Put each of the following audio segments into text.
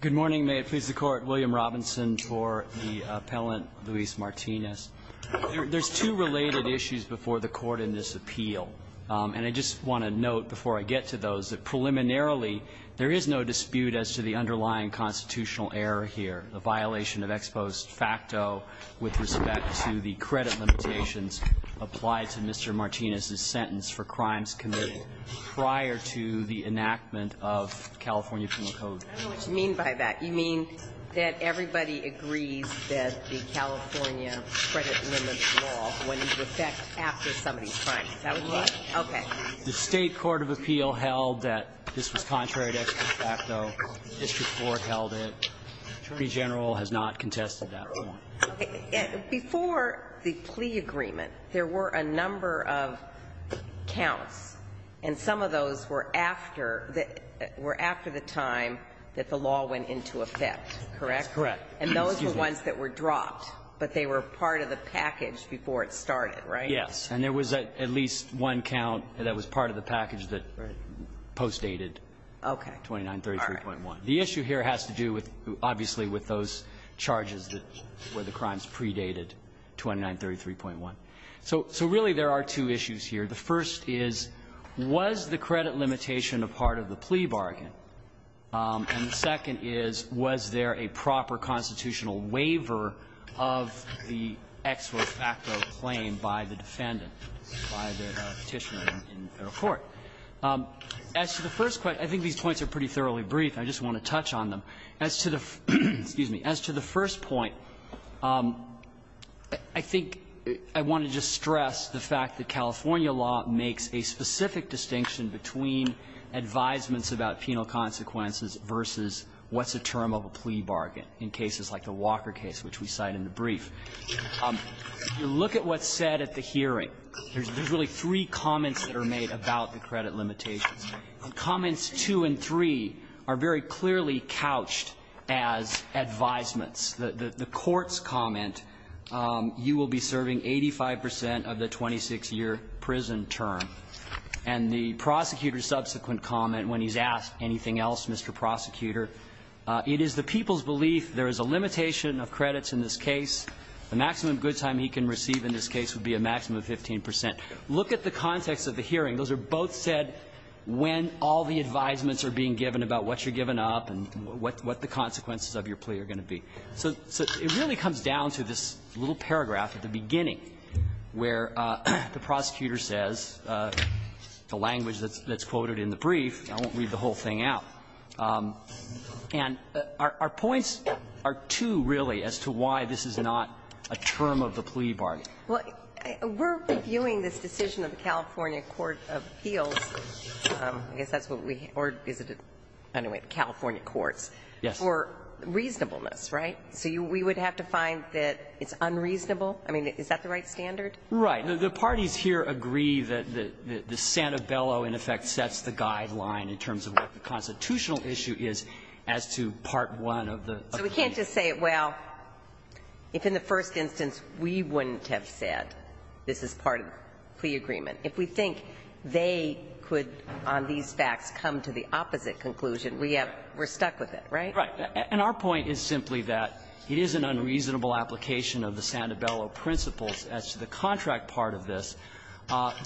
Good morning. May it please the Court, William Robinson for the appellant, Luis Martinez. There's two related issues before the Court in this appeal. And I just want to note before I get to those that preliminarily there is no dispute as to the underlying constitutional error here, the violation of ex post facto with respect to the credit limitations applied to Mr. Martinez's sentence for crimes committed prior to the enactment of California penal code. I don't know what you mean by that. You mean that everybody agrees that the California credit limit law would affect after somebody's crime. Is that what you mean? Okay. The State Court of Appeal held that this was contrary to ex post facto. District 4 held it. Attorney General has not contested that point. Before the plea agreement, there were a number of counts, and some of those were after the time that the law went into effect, correct? That's correct. And those were ones that were dropped, but they were part of the package before it started, right? Yes. And there was at least one count that was part of the package that postdated 2933.1. The issue here has to do with, obviously, with those charges that were the crimes predated 2933.1. So really there are two issues here. The first is, was the credit limitation a part of the plea bargain? And the second is, was there a proper constitutional waiver of the ex post facto claim by the defendant, by the Petitioner in federal court? As to the first question, I think these points are pretty thoroughly brief. I just want to touch on them. As to the first point, I think I want to just stress the fact that California law makes a specific distinction between advisements about penal consequences versus what's a term of a plea bargain in cases like the Walker case, which we cite in the brief. You look at what's said at the hearing. There's really three comments that are made about the credit limitations. Comments two and three are very clearly couched as advisements. The court's comment, you will be serving 85 percent of the 26-year prison term. And the prosecutor's subsequent comment when he's asked anything else, Mr. Prosecutor, it is the people's belief there is a limitation of credits in this case. The maximum good time he can receive in this case would be a maximum of 15 percent. Look at the context of the hearing. Those are both said when all the advisements are being given about what you're giving up and what the consequences of your plea are going to be. So it really comes down to this little paragraph at the beginning where the prosecutor says, the language that's quoted in the brief, I won't read the whole thing out. And our points are two, really, as to why this is not a term of the plea bargain. Well, we're reviewing this decision of the California court of appeals. I guess that's what we or is it anyway, the California courts. Yes. For reasonableness, right? So we would have to find that it's unreasonable? I mean, is that the right standard? Right. The parties here agree that the Santabello, in effect, sets the guideline in terms of what the constitutional issue is as to part one of the plea. So we can't just say, well, if in the first instance we wouldn't have said this is part of the plea agreement. If we think they could, on these facts, come to the opposite conclusion, we have we're stuck with it, right? Right. And our point is simply that it is an unreasonable application of the Santabello principles as to the contract part of this,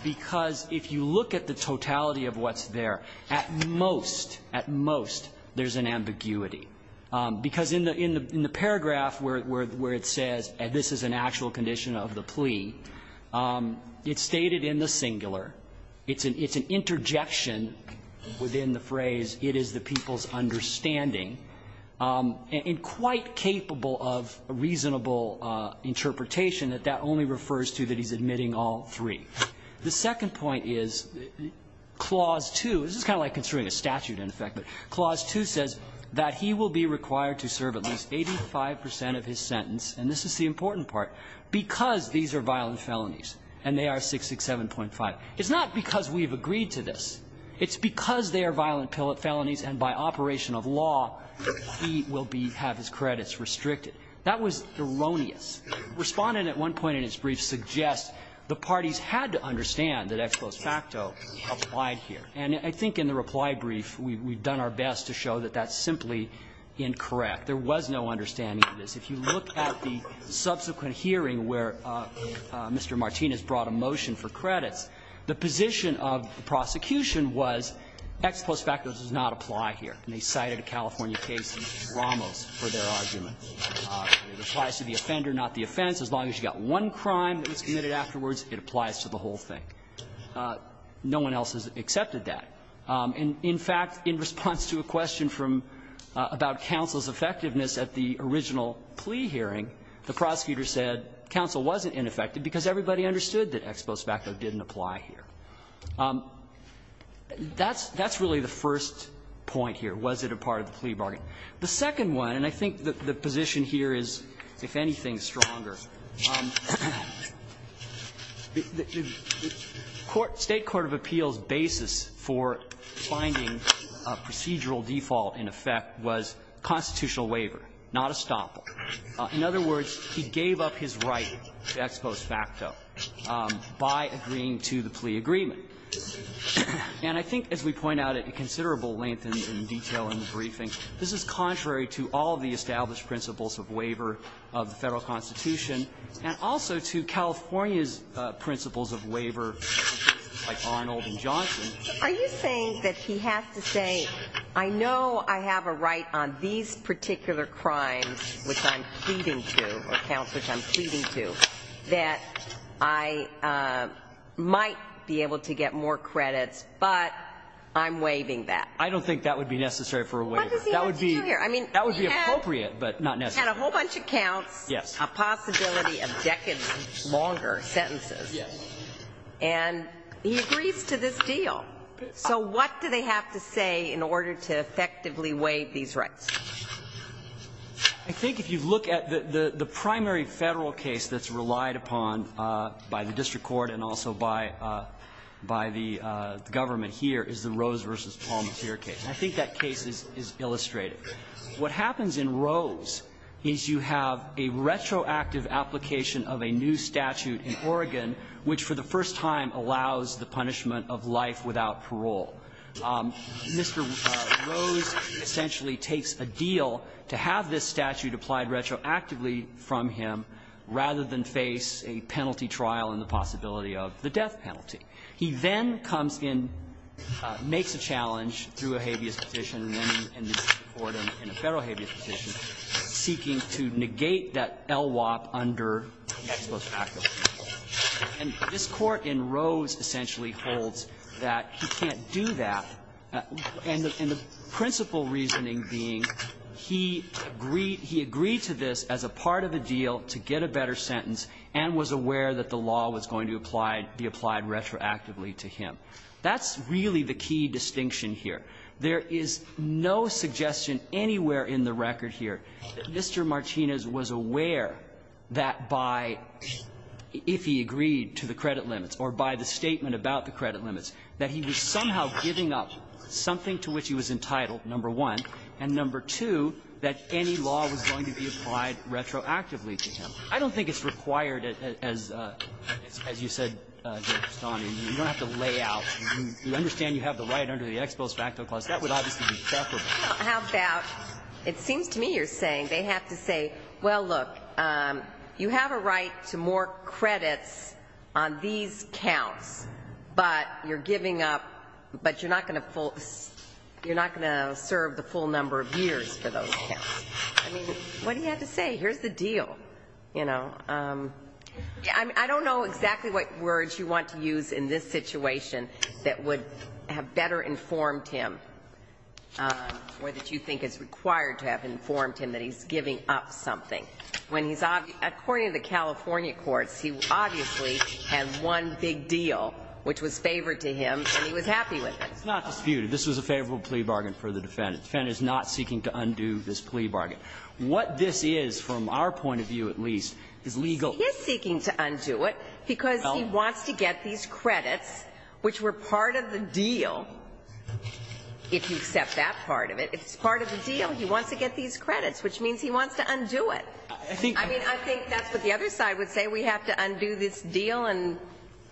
because if you look at the totality of what's there, at most, at most, there's an ambiguity. Because in the paragraph where it says, and this is an actual condition of the plea, it's stated in the singular. It's an interjection within the phrase, it is the people's understanding, and quite capable of reasonable interpretation, that that only refers to that he's admitting all three. The second point is clause 2. This is kind of like construing a statute, in effect. But clause 2 says that he will be required to serve at least 85 percent of his sentence, and this is the important part, because these are violent felonies, and they are 667.5. It's not because we've agreed to this. It's because they are violent felonies, and by operation of law, he will be, have his credits restricted. That was erroneous. Respondent at one point in his brief suggests the parties had to understand that ex post facto applied here. And I think in the reply brief, we've done our best to show that that's simply incorrect. There was no understanding of this. If you look at the subsequent hearing where Mr. Martinez brought a motion for credits, the position of the prosecution was ex post facto does not apply here. And they cited a California case in Ramos for their argument. It applies to the offender, not the offense. As long as you've got one crime that was committed afterwards, it applies to the whole thing. No one else has accepted that. And, in fact, in response to a question from, about counsel's effectiveness at the original plea hearing, the prosecutor said counsel wasn't ineffective because everybody understood that ex post facto didn't apply here. That's really the first point here, was it a part of the plea bargain. The second one, and I think the position here is, if anything, stronger. The State court of appeals' basis for finding procedural default in effect was constitutional waiver, not estoppel. In other words, he gave up his right to ex post facto by agreeing to the plea agreement. And I think, as we point out at considerable length and detail in the briefing, this is contrary to all of the established principles of waiver of the Federal Constitution, and also to California's principles of waiver, like Arnold and Johnson. Are you saying that he has to say, I know I have a right on these particular crimes which I'm pleading to, or counts which I'm pleading to, that I might be able to get more credits, but I'm waiving that? I don't think that would be necessary for a waiver. That would be appropriate, but not necessary. He had a whole bunch of counts, a possibility of decades longer sentences. And he agrees to this deal. So what do they have to say in order to effectively waive these rights? I think if you look at the primary Federal case that's relied upon by the district court and also by the government here is the Rose v. Palmentier case. I think that case is illustrative. What happens in Rose is you have a retroactive application of a new statute in Oregon which for the first time allows the punishment of life without parole. Mr. Rose essentially takes a deal to have this statute applied retroactively from him rather than face a penalty trial and the possibility of the death penalty. He then comes in, makes a challenge through a habeas petition in the district court and a Federal habeas petition, seeking to negate that LWOP under the Exposure Act. And this Court in Rose essentially holds that he can't do that, and the principal reasoning being he agreed to this as a part of a deal to get a better sentence and was aware that the law was going to be applied retroactively to him. That's really the key distinction here. There is no suggestion anywhere in the record here that Mr. Martinez was aware that by, if he agreed to the credit limits or by the statement about the credit limits, that he was somehow giving up something to which he was entitled, number one, and number two, that any law was going to be applied retroactively to him. I don't think it's required, as you said, Justice Sotomayor. You don't have to lay out. You understand you have the right under the Exposed Facto Clause. That would obviously be preferable. Well, how about, it seems to me you're saying, they have to say, well, look, you have a right to more credits on these counts, but you're giving up, but you're not going to serve the full number of years for those counts. I mean, what do you have to say? Here's the deal. I don't know exactly what words you want to use in this situation that would have better informed him or that you think is required to have informed him that he's giving up something. According to the California courts, he obviously had one big deal which was favored to him, and he was happy with it. It's not disputed. This was a favorable plea bargain for the defendant. The defendant is not seeking to undo this plea bargain. What this is, from our point of view at least, is legal. He is seeking to undo it because he wants to get these credits, which were part of the deal, if you accept that part of it. It's part of the deal. He wants to get these credits, which means he wants to undo it. I think that's what the other side would say. We have to undo this deal and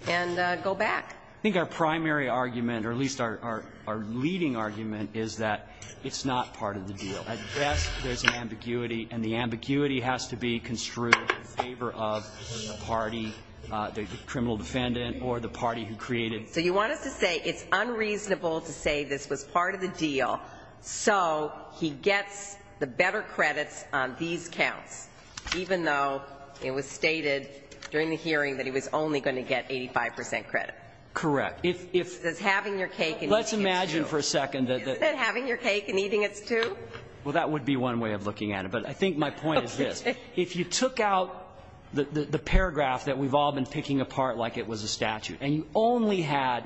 go back. I think our primary argument, or at least our leading argument, is that it's not part of the deal. At best, there's an ambiguity, and the ambiguity has to be construed in favor of the party, the criminal defendant or the party who created it. So you want us to say it's unreasonable to say this was part of the deal, so he gets the better credits on these counts, even though it was stated during the hearing that he was only going to get 85 percent credit? Correct. If he's having your cake and eating it's two. Let's imagine for a second that the ---- Isn't it having your cake and eating it's two? Well, that would be one way of looking at it. But I think my point is this. If you took out the paragraph that we've all been picking apart like it was a statute and you only had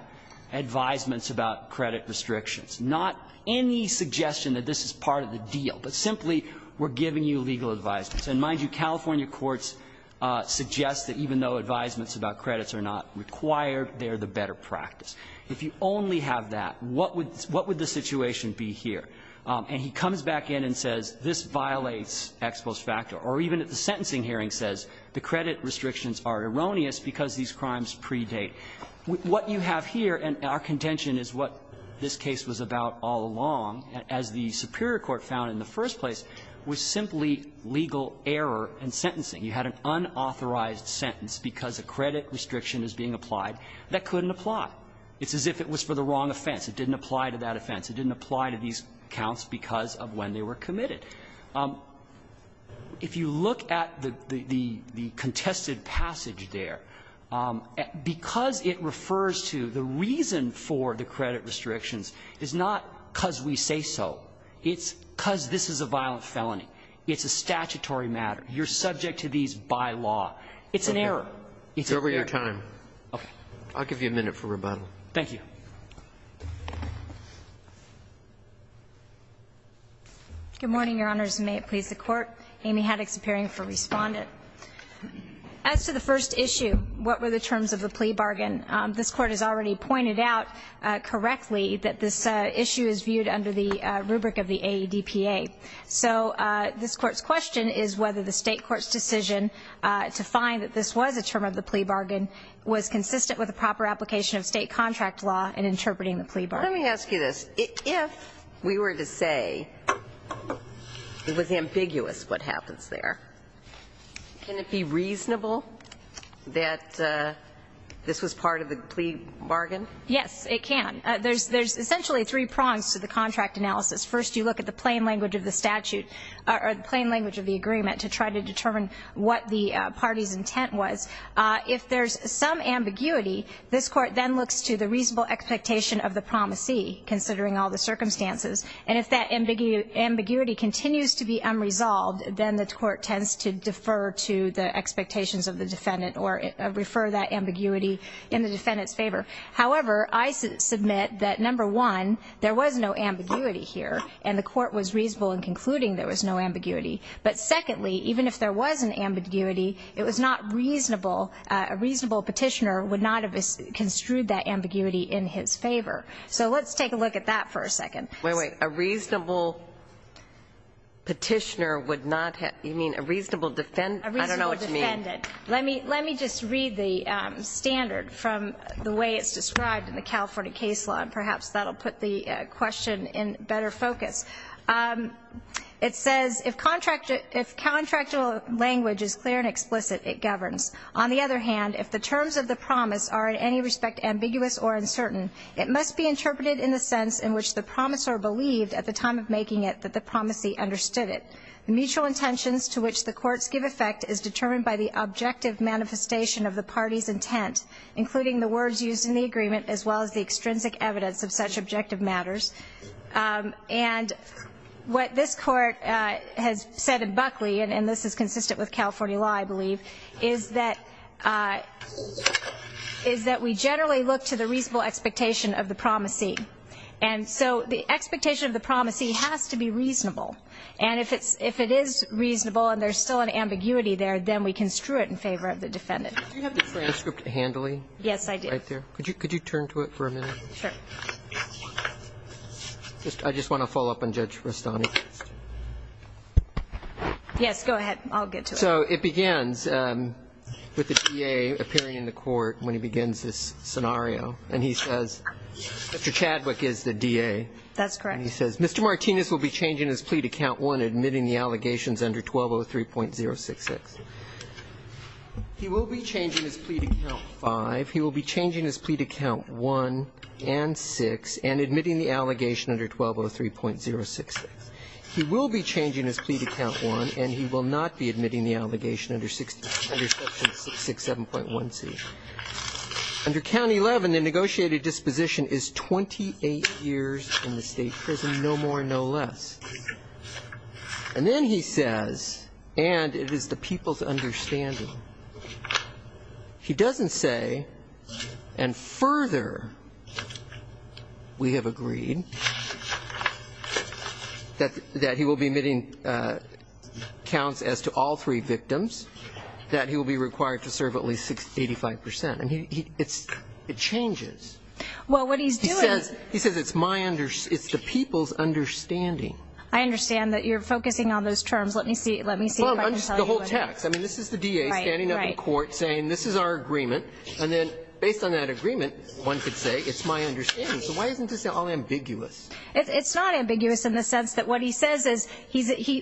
advisements about credit restrictions, not any suggestion that this is part of the deal, but simply we're giving you legal advisements. And mind you, California courts suggest that even though advisements about credits are not required, they are the better practice. If you only have that, what would the situation be here? And he comes back in and says this violates Ex Post Factor, or even at the sentencing hearing says the credit restrictions are erroneous because these crimes predate. What you have here, and our contention is what this case was about all along as the Superior Court found in the first place, was simply legal error in sentencing. You had an unauthorized sentence because a credit restriction is being applied. That couldn't apply. It's as if it was for the wrong offense. It didn't apply to that offense. It didn't apply to these counts because of when they were committed. If you look at the contested passage there, because it refers to the reason for the It's because this is a violent felony. It's a statutory matter. You're subject to these by law. It's an error. It's an error. It's over your time. Okay. I'll give you a minute for rebuttal. Thank you. Good morning, Your Honors, and may it please the Court. Amy Haddox appearing for Respondent. As to the first issue, what were the terms of the plea bargain, this Court has already pointed out correctly that this issue is viewed under the rubric of the AEDPA. So this Court's question is whether the State court's decision to find that this was a term of the plea bargain was consistent with the proper application of State contract law in interpreting the plea bargain. Let me ask you this. If we were to say it was ambiguous what happens there, can it be reasonable that this was part of the plea bargain? Yes, it can. There's essentially three prongs to the contract analysis. First, you look at the plain language of the statute or the plain language of the agreement to try to determine what the party's intent was. If there's some ambiguity, this Court then looks to the reasonable expectation of the promisee, considering all the circumstances. And if that ambiguity continues to be unresolved, then the Court tends to defer to the expectations of the defendant or refer that ambiguity in the defendant's favor. However, I submit that, number one, there was no ambiguity here and the Court was reasonable in concluding there was no ambiguity. But secondly, even if there was an ambiguity, it was not reasonable. A reasonable petitioner would not have construed that ambiguity in his favor. So let's take a look at that for a second. Wait, wait. A reasonable petitioner would not have you mean a reasonable defendant? I don't know what you mean. A reasonable defendant. Let me just read the standard from the way it's described in the California case law, and perhaps that will put the question in better focus. It says, if contractual language is clear and explicit, it governs. On the other hand, if the terms of the promise are in any respect ambiguous or uncertain, it must be interpreted in the sense in which the promisor believed at the time of making it that the promisee understood it. The mutual intentions to which the courts give effect is determined by the objective manifestation of the party's intent, including the words used in the agreement as well as the extrinsic evidence of such objective matters. And what this Court has said in Buckley, and this is consistent with California law, I believe, is that we generally look to the reasonable expectation of the promisee. And so the expectation of the promisee has to be reasonable. And if it is reasonable and there's still an ambiguity there, then we construe it in favor of the defendant. Do you have the transcript handily? Yes, I do. Right there. Could you turn to it for a minute? Sure. I just want to follow up on Judge Rastani. Yes, go ahead. I'll get to it. So it begins with the DA appearing in the court when he begins this scenario. And he says, Mr. Chadwick is the DA. That's correct. And he says, Mr. Martinez will be changing his plea to count one, admitting the allegations under 1203.066. He will be changing his plea to count five. He will be changing his plea to count one and six and admitting the allegation under 1203.066. He will be changing his plea to count one and he will not be admitting the allegation under section 67.1C. Under County 11, the negotiated disposition is 28 years in the state prison, no more, no less. And then he says, and it is the people's understanding, he doesn't say, and the further we have agreed that he will be admitting counts as to all three victims, that he will be required to serve at least 85%. And it changes. Well, what he's doing is he says, it's the people's understanding. I understand that you're focusing on those terms. Let me see if I can tell you. The whole text. I mean, this is the DA standing up in court saying, this is our agreement. And then based on that agreement, one could say, it's my understanding. So why isn't this all ambiguous? It's not ambiguous in the sense that what he says is,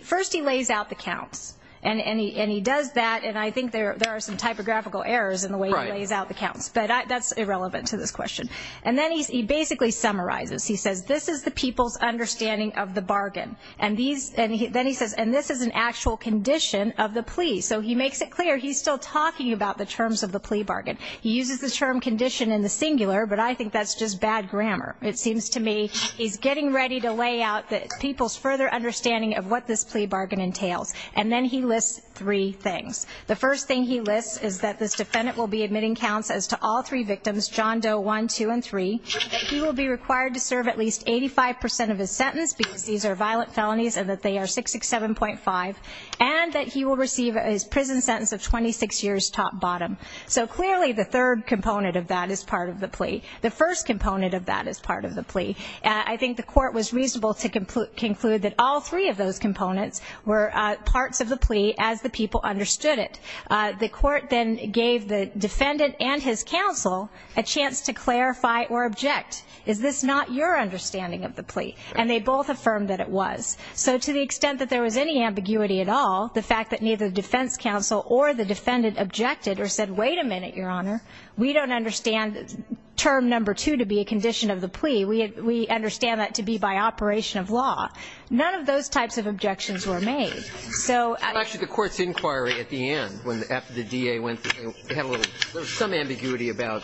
first he lays out the counts. And he does that. And I think there are some typographical errors in the way he lays out the counts. But that's irrelevant to this question. And then he basically summarizes. He says, this is the people's understanding of the bargain. And then he says, and this is an actual condition of the plea. So he makes it clear he's still talking about the terms of the plea bargain. He uses the term condition in the singular. But I think that's just bad grammar. It seems to me he's getting ready to lay out the people's further understanding of what this plea bargain entails. And then he lists three things. The first thing he lists is that this defendant will be admitting counts as to all three victims, John Doe 1, 2, and 3. That he will be required to serve at least 85% of his sentence because these are violent felonies and that they are 667.5. And that he will receive his prison sentence of 26 years top-bottom. So clearly the third component of that is part of the plea. The first component of that is part of the plea. I think the court was reasonable to conclude that all three of those components were parts of the plea as the people understood it. The court then gave the defendant and his counsel a chance to clarify or object. Is this not your understanding of the plea? And they both affirmed that it was. So to the extent that there was any ambiguity at all, the fact that neither the defense counsel or the defendant objected or said, wait a minute, Your Honor, we don't understand term number two to be a condition of the plea. We understand that to be by operation of law. None of those types of objections were made. So at a ---- Actually, the court's inquiry at the end, after the DA went through, they had a little bit of some ambiguity about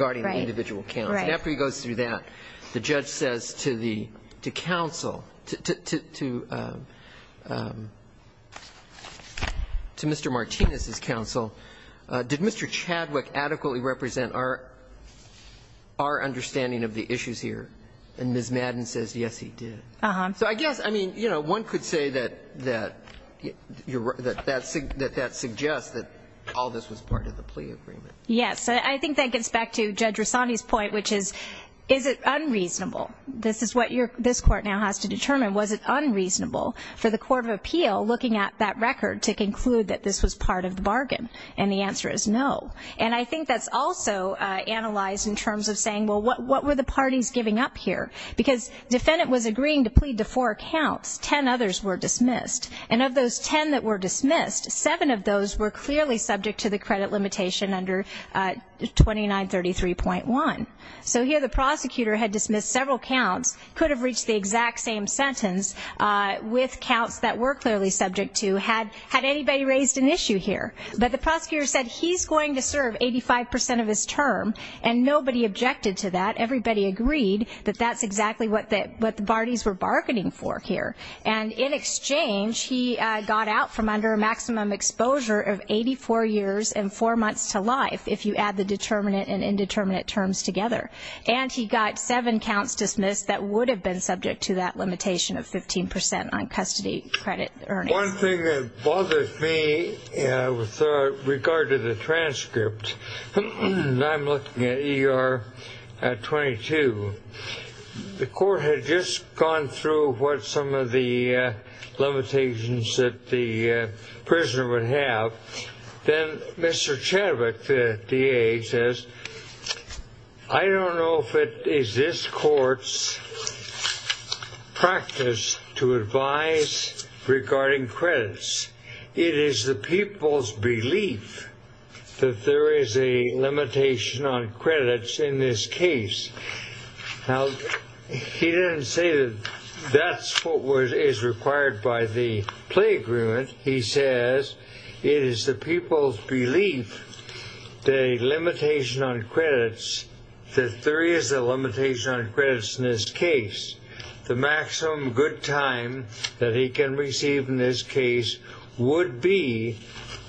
Right. And after he goes through that, the judge says to the counsel, to Mr. Martinez's counsel, did Mr. Chadwick adequately represent our understanding of the issues here? And Ms. Madden says, yes, he did. So I guess, I mean, you know, one could say that that suggests that all this was part of the plea agreement. Yes. I think that gets back to Judge Rosani's point, which is, is it unreasonable? This is what this court now has to determine. Was it unreasonable for the Court of Appeal, looking at that record, to conclude that this was part of the bargain? And the answer is no. And I think that's also analyzed in terms of saying, well, what were the parties giving up here? Because the defendant was agreeing to plead to four accounts. Ten others were dismissed. And of those ten that were dismissed, seven of those were clearly subject to the credit limitation under 2933.1. So here the prosecutor had dismissed several counts, could have reached the exact same sentence, with counts that were clearly subject to, had anybody raised an issue here? But the prosecutor said he's going to serve 85 percent of his term, and nobody objected to that. Everybody agreed that that's exactly what the parties were bargaining for here. And in exchange, he got out from under a maximum exposure of 84 years and four months to life, if you add the determinate and indeterminate terms together. And he got seven counts dismissed that would have been subject to that limitation of 15 percent on custody credit earnings. One thing that bothered me with regard to the transcript, and I'm looking at ER 22, the court had just gone through what some of the limitations that the prisoner would have. Then Mr. Chadwick, the DA, says, I don't know if it is this court's practice to advise regarding credits. It is the people's belief that there is a limitation on credits in this case. Now, he didn't say that that's what is required by the play agreement. He says it is the people's belief, the limitation on credits, that there is a limitation on credits in this case. The maximum good time that he can receive in this case would be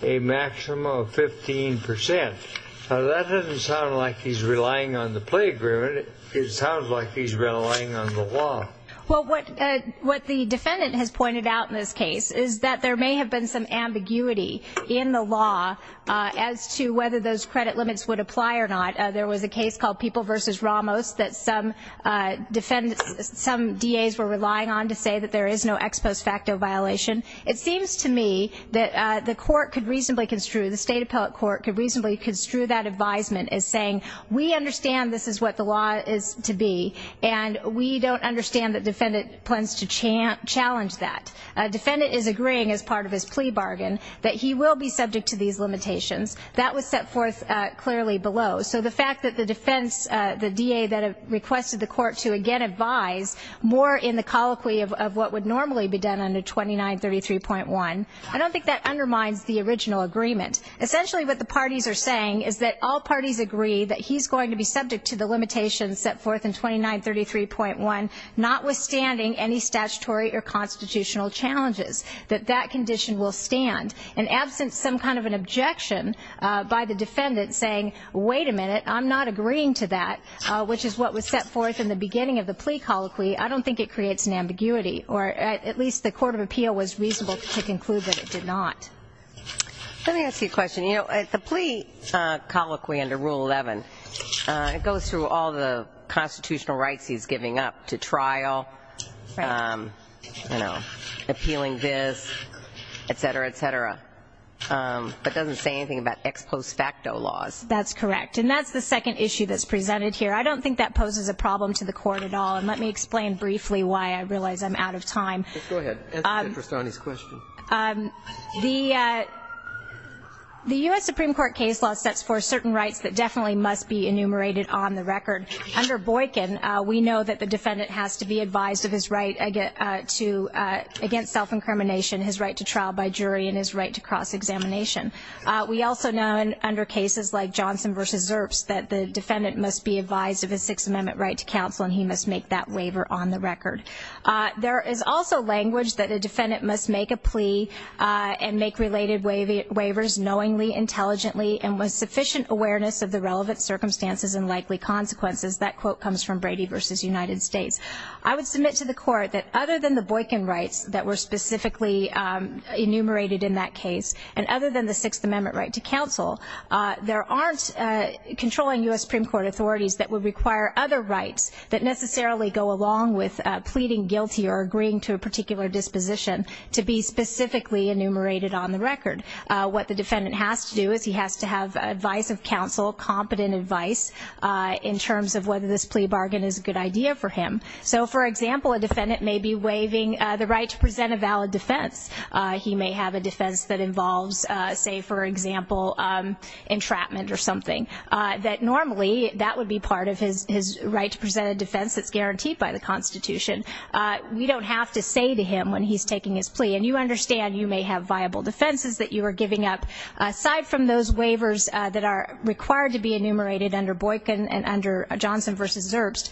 a maximum of 15 percent. Now, that doesn't sound like he's relying on the play agreement. It sounds like he's relying on the law. Well, what the defendant has pointed out in this case is that there may have been some ambiguity in the law as to whether those credit limits would apply or not. There was a case called People v. Ramos that some DAs were relying on to say that there is no ex post facto violation. It seems to me that the court could reasonably construe, the state appellate court could reasonably construe that advisement as saying, we understand this is what the law is to be, and we don't understand that defendant plans to challenge that. A defendant is agreeing as part of his plea bargain that he will be subject to these limitations. That was set forth clearly below. So the fact that the defense, the DA that requested the court to, again, advise more in the colloquy of what would normally be done under 2933.1, I don't think that undermines the original agreement. Essentially, what the parties are saying is that all parties agree that he's going to be subject to the limitations set forth in 2933.1, notwithstanding any statutory or constitutional challenges, that that condition will stand. And absent some kind of an objection by the defendant saying, wait a minute, I'm not agreeing to that, which is what was set forth in the beginning of the plea colloquy, I don't think it creates an ambiguity. Or at least the court of appeal was reasonable to conclude that it did not. Let me ask you a question. The plea colloquy under Rule 11, it goes through all the constitutional rights he's giving up to trial, appealing this, et cetera, et cetera. But it doesn't say anything about ex post facto laws. That's correct. And that's the second issue that's presented here. I don't think that poses a problem to the court at all. And let me explain briefly why I realize I'm out of time. Go ahead. The U.S. Supreme Court case law sets forth certain rights that definitely must be enumerated on the record. Under Boykin, we know that the defendant has to be advised of his right against self-incrimination, his right to trial by jury, and his right to cross-examination. We also know under cases like Johnson v. Zerps that the defendant must be advised of a Sixth Amendment right to counsel, and he must make that waiver on the record. There is also language that a defendant must make a plea and make related waivers knowingly, intelligently, and with sufficient awareness of the relevant circumstances and likely consequences. That quote comes from Brady v. United States. I would submit to the court that other than the Boykin rights that were specifically enumerated in that case, and other than the Sixth Amendment right to counsel, there aren't controlling U.S. Supreme Court authorities that would require other rights that necessarily go along with pleading guilty or agreeing to a particular disposition to be specifically enumerated on the record. What the defendant has to do is he has to have advice of counsel, competent advice in terms of whether this plea bargain is a good idea for him. So, for example, a defendant may be waiving the right to present a valid defense. He may have a defense that involves, say, for example, entrapment or something. Normally, that would be part of his right to present a defense that's guaranteed by the Constitution. We don't have to say to him when he's taking his plea, and you understand you may have viable defenses that you are giving up. Aside from those waivers that are required to be enumerated under Boykin and under Johnson v. Zerbst,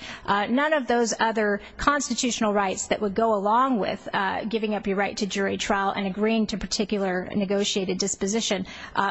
none of those other constitutional rights that would go along with giving up your right to jury trial and agreeing to a particular negotiated disposition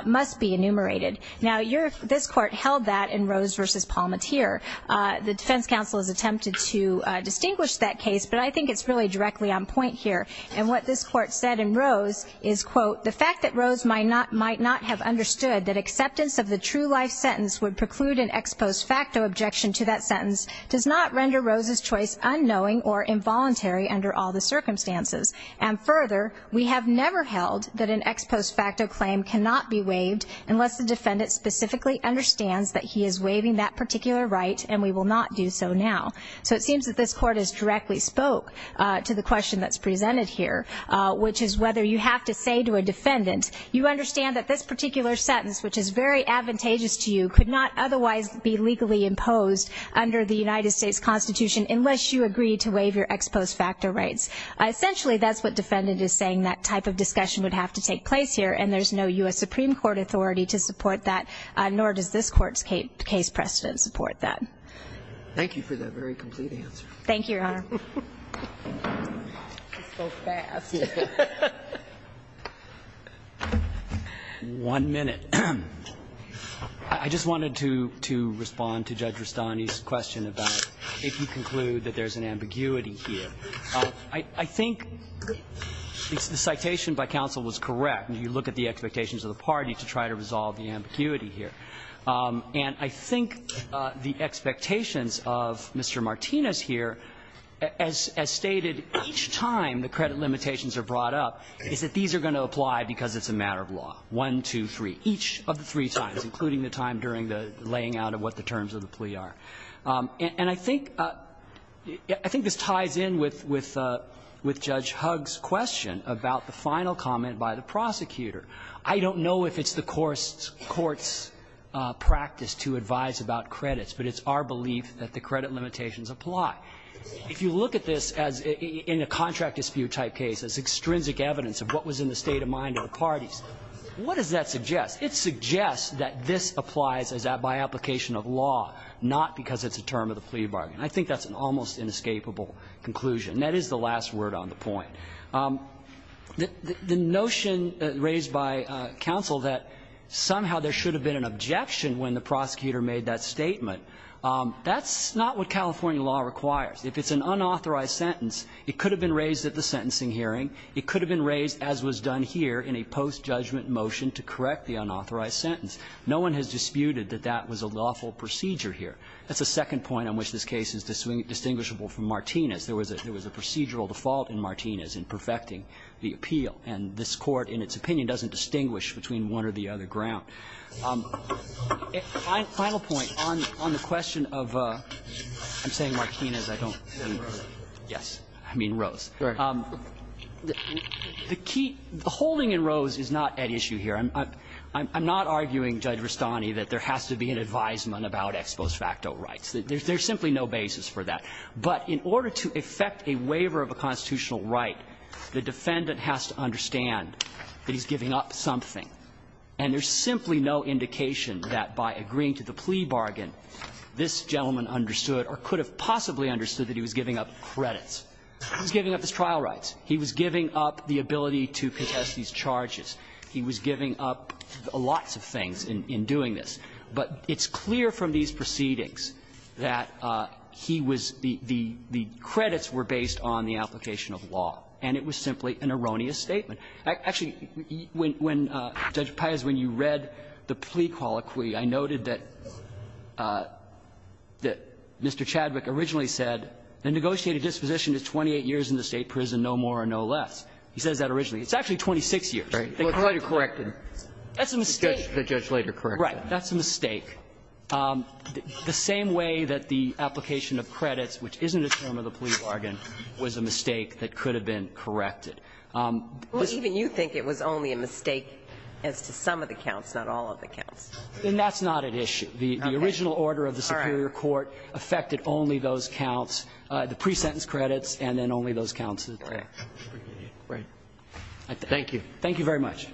must be enumerated. Now, this court held that in Rose v. Palmatier. The defense counsel has attempted to distinguish that case, but I think it's really directly on point here. And what this court said in Rose is, quote, the fact that Rose might not have understood that acceptance of the true life sentence would preclude an ex post facto objection to that sentence does not render Rose's choice unknowing or involuntary under all the circumstances. And further, we have never held that an ex post facto claim cannot be waived unless the defendant specifically understands that he is waiving that particular right, and we will not do so now. So it seems that this court has directly spoke to the question that's presented here, which is whether you have to say to a defendant, you understand that this particular sentence, which is very advantageous to you, could not otherwise be legally imposed under the United States Constitution unless you agree to waive your ex post facto rights. Essentially, that's what defendant is saying, that type of discussion would have to take place here, and there's no U.S. Supreme Court authority to support that, nor does this court's case precedent support that. Thank you for that very complete answer. Thank you, Your Honor. So fast. One minute. I just wanted to respond to Judge Rustani's question about if you conclude that there's an ambiguity here. I think the citation by counsel was correct. You look at the expectations of the party to try to resolve the ambiguity here. And I think the expectations of Mr. Martinez here, as stated, each time the credit limitations are brought up, is that these are going to apply because it's a matter of law. One, two, three. Each of the three times, including the time during the laying out of what the terms of the plea are. And I think this ties in with Judge Hugg's question about the final comment by the prosecutor. I don't know if it's the court's practice to advise about credits, but it's our belief that the credit limitations apply. If you look at this in a contract dispute type case as extrinsic evidence of what was in the state of mind of the parties, what does that suggest? It suggests that this applies by application of law, not because it's a term of the plea bargain. I think that's an almost inescapable conclusion. That is the last word on the point. The notion raised by counsel that somehow there should have been an objection when the prosecutor made that statement, that's not what California law requires. If it's an unauthorized sentence, it could have been raised at the sentencing hearing, it could have been raised, as was done here, in a post-judgment motion to correct the unauthorized sentence. No one has disputed that that was a lawful procedure here. That's the second point on which this case is distinguishable from Martinez. There was a procedural default in Martinez in perfecting the appeal, and this court, in its opinion, doesn't distinguish between one or the other ground. Final point on the question of the holding in Rose is not at issue here. I'm not arguing, Judge Rustani, that there has to be an advisement about ex post facto rights. There's simply no basis for that. But in order to effect a waiver of a constitutional right, the defendant has to understand that he's giving up something. And there's simply no indication that by agreeing to the plea bargain, this gentleman understood or could have possibly understood that he was giving up credits. He was giving up his trial rights. He was giving up the ability to contest these charges. He was giving up lots of things in doing this. But it's clear from these proceedings that he was the credits were based on the application of law, and it was simply an erroneous statement. Actually, when Judge Payas, when you read the plea colloquy, I noted that Mr. Chadwick originally said the negotiated disposition is 28 years in the State prison, no more or no less. He says that originally. It's actually 26 years. That's a mistake. The judge later corrected that. Right. That's a mistake. The same way that the application of credits, which isn't a term of the plea bargain, was a mistake that could have been corrected. Well, even you think it was only a mistake as to some of the counts, not all of the counts. And that's not at issue. The original order of the superior court affected only those counts, the pre-sentence credits, and then only those counts. Right. Thank you. Thank you very much. Thank you.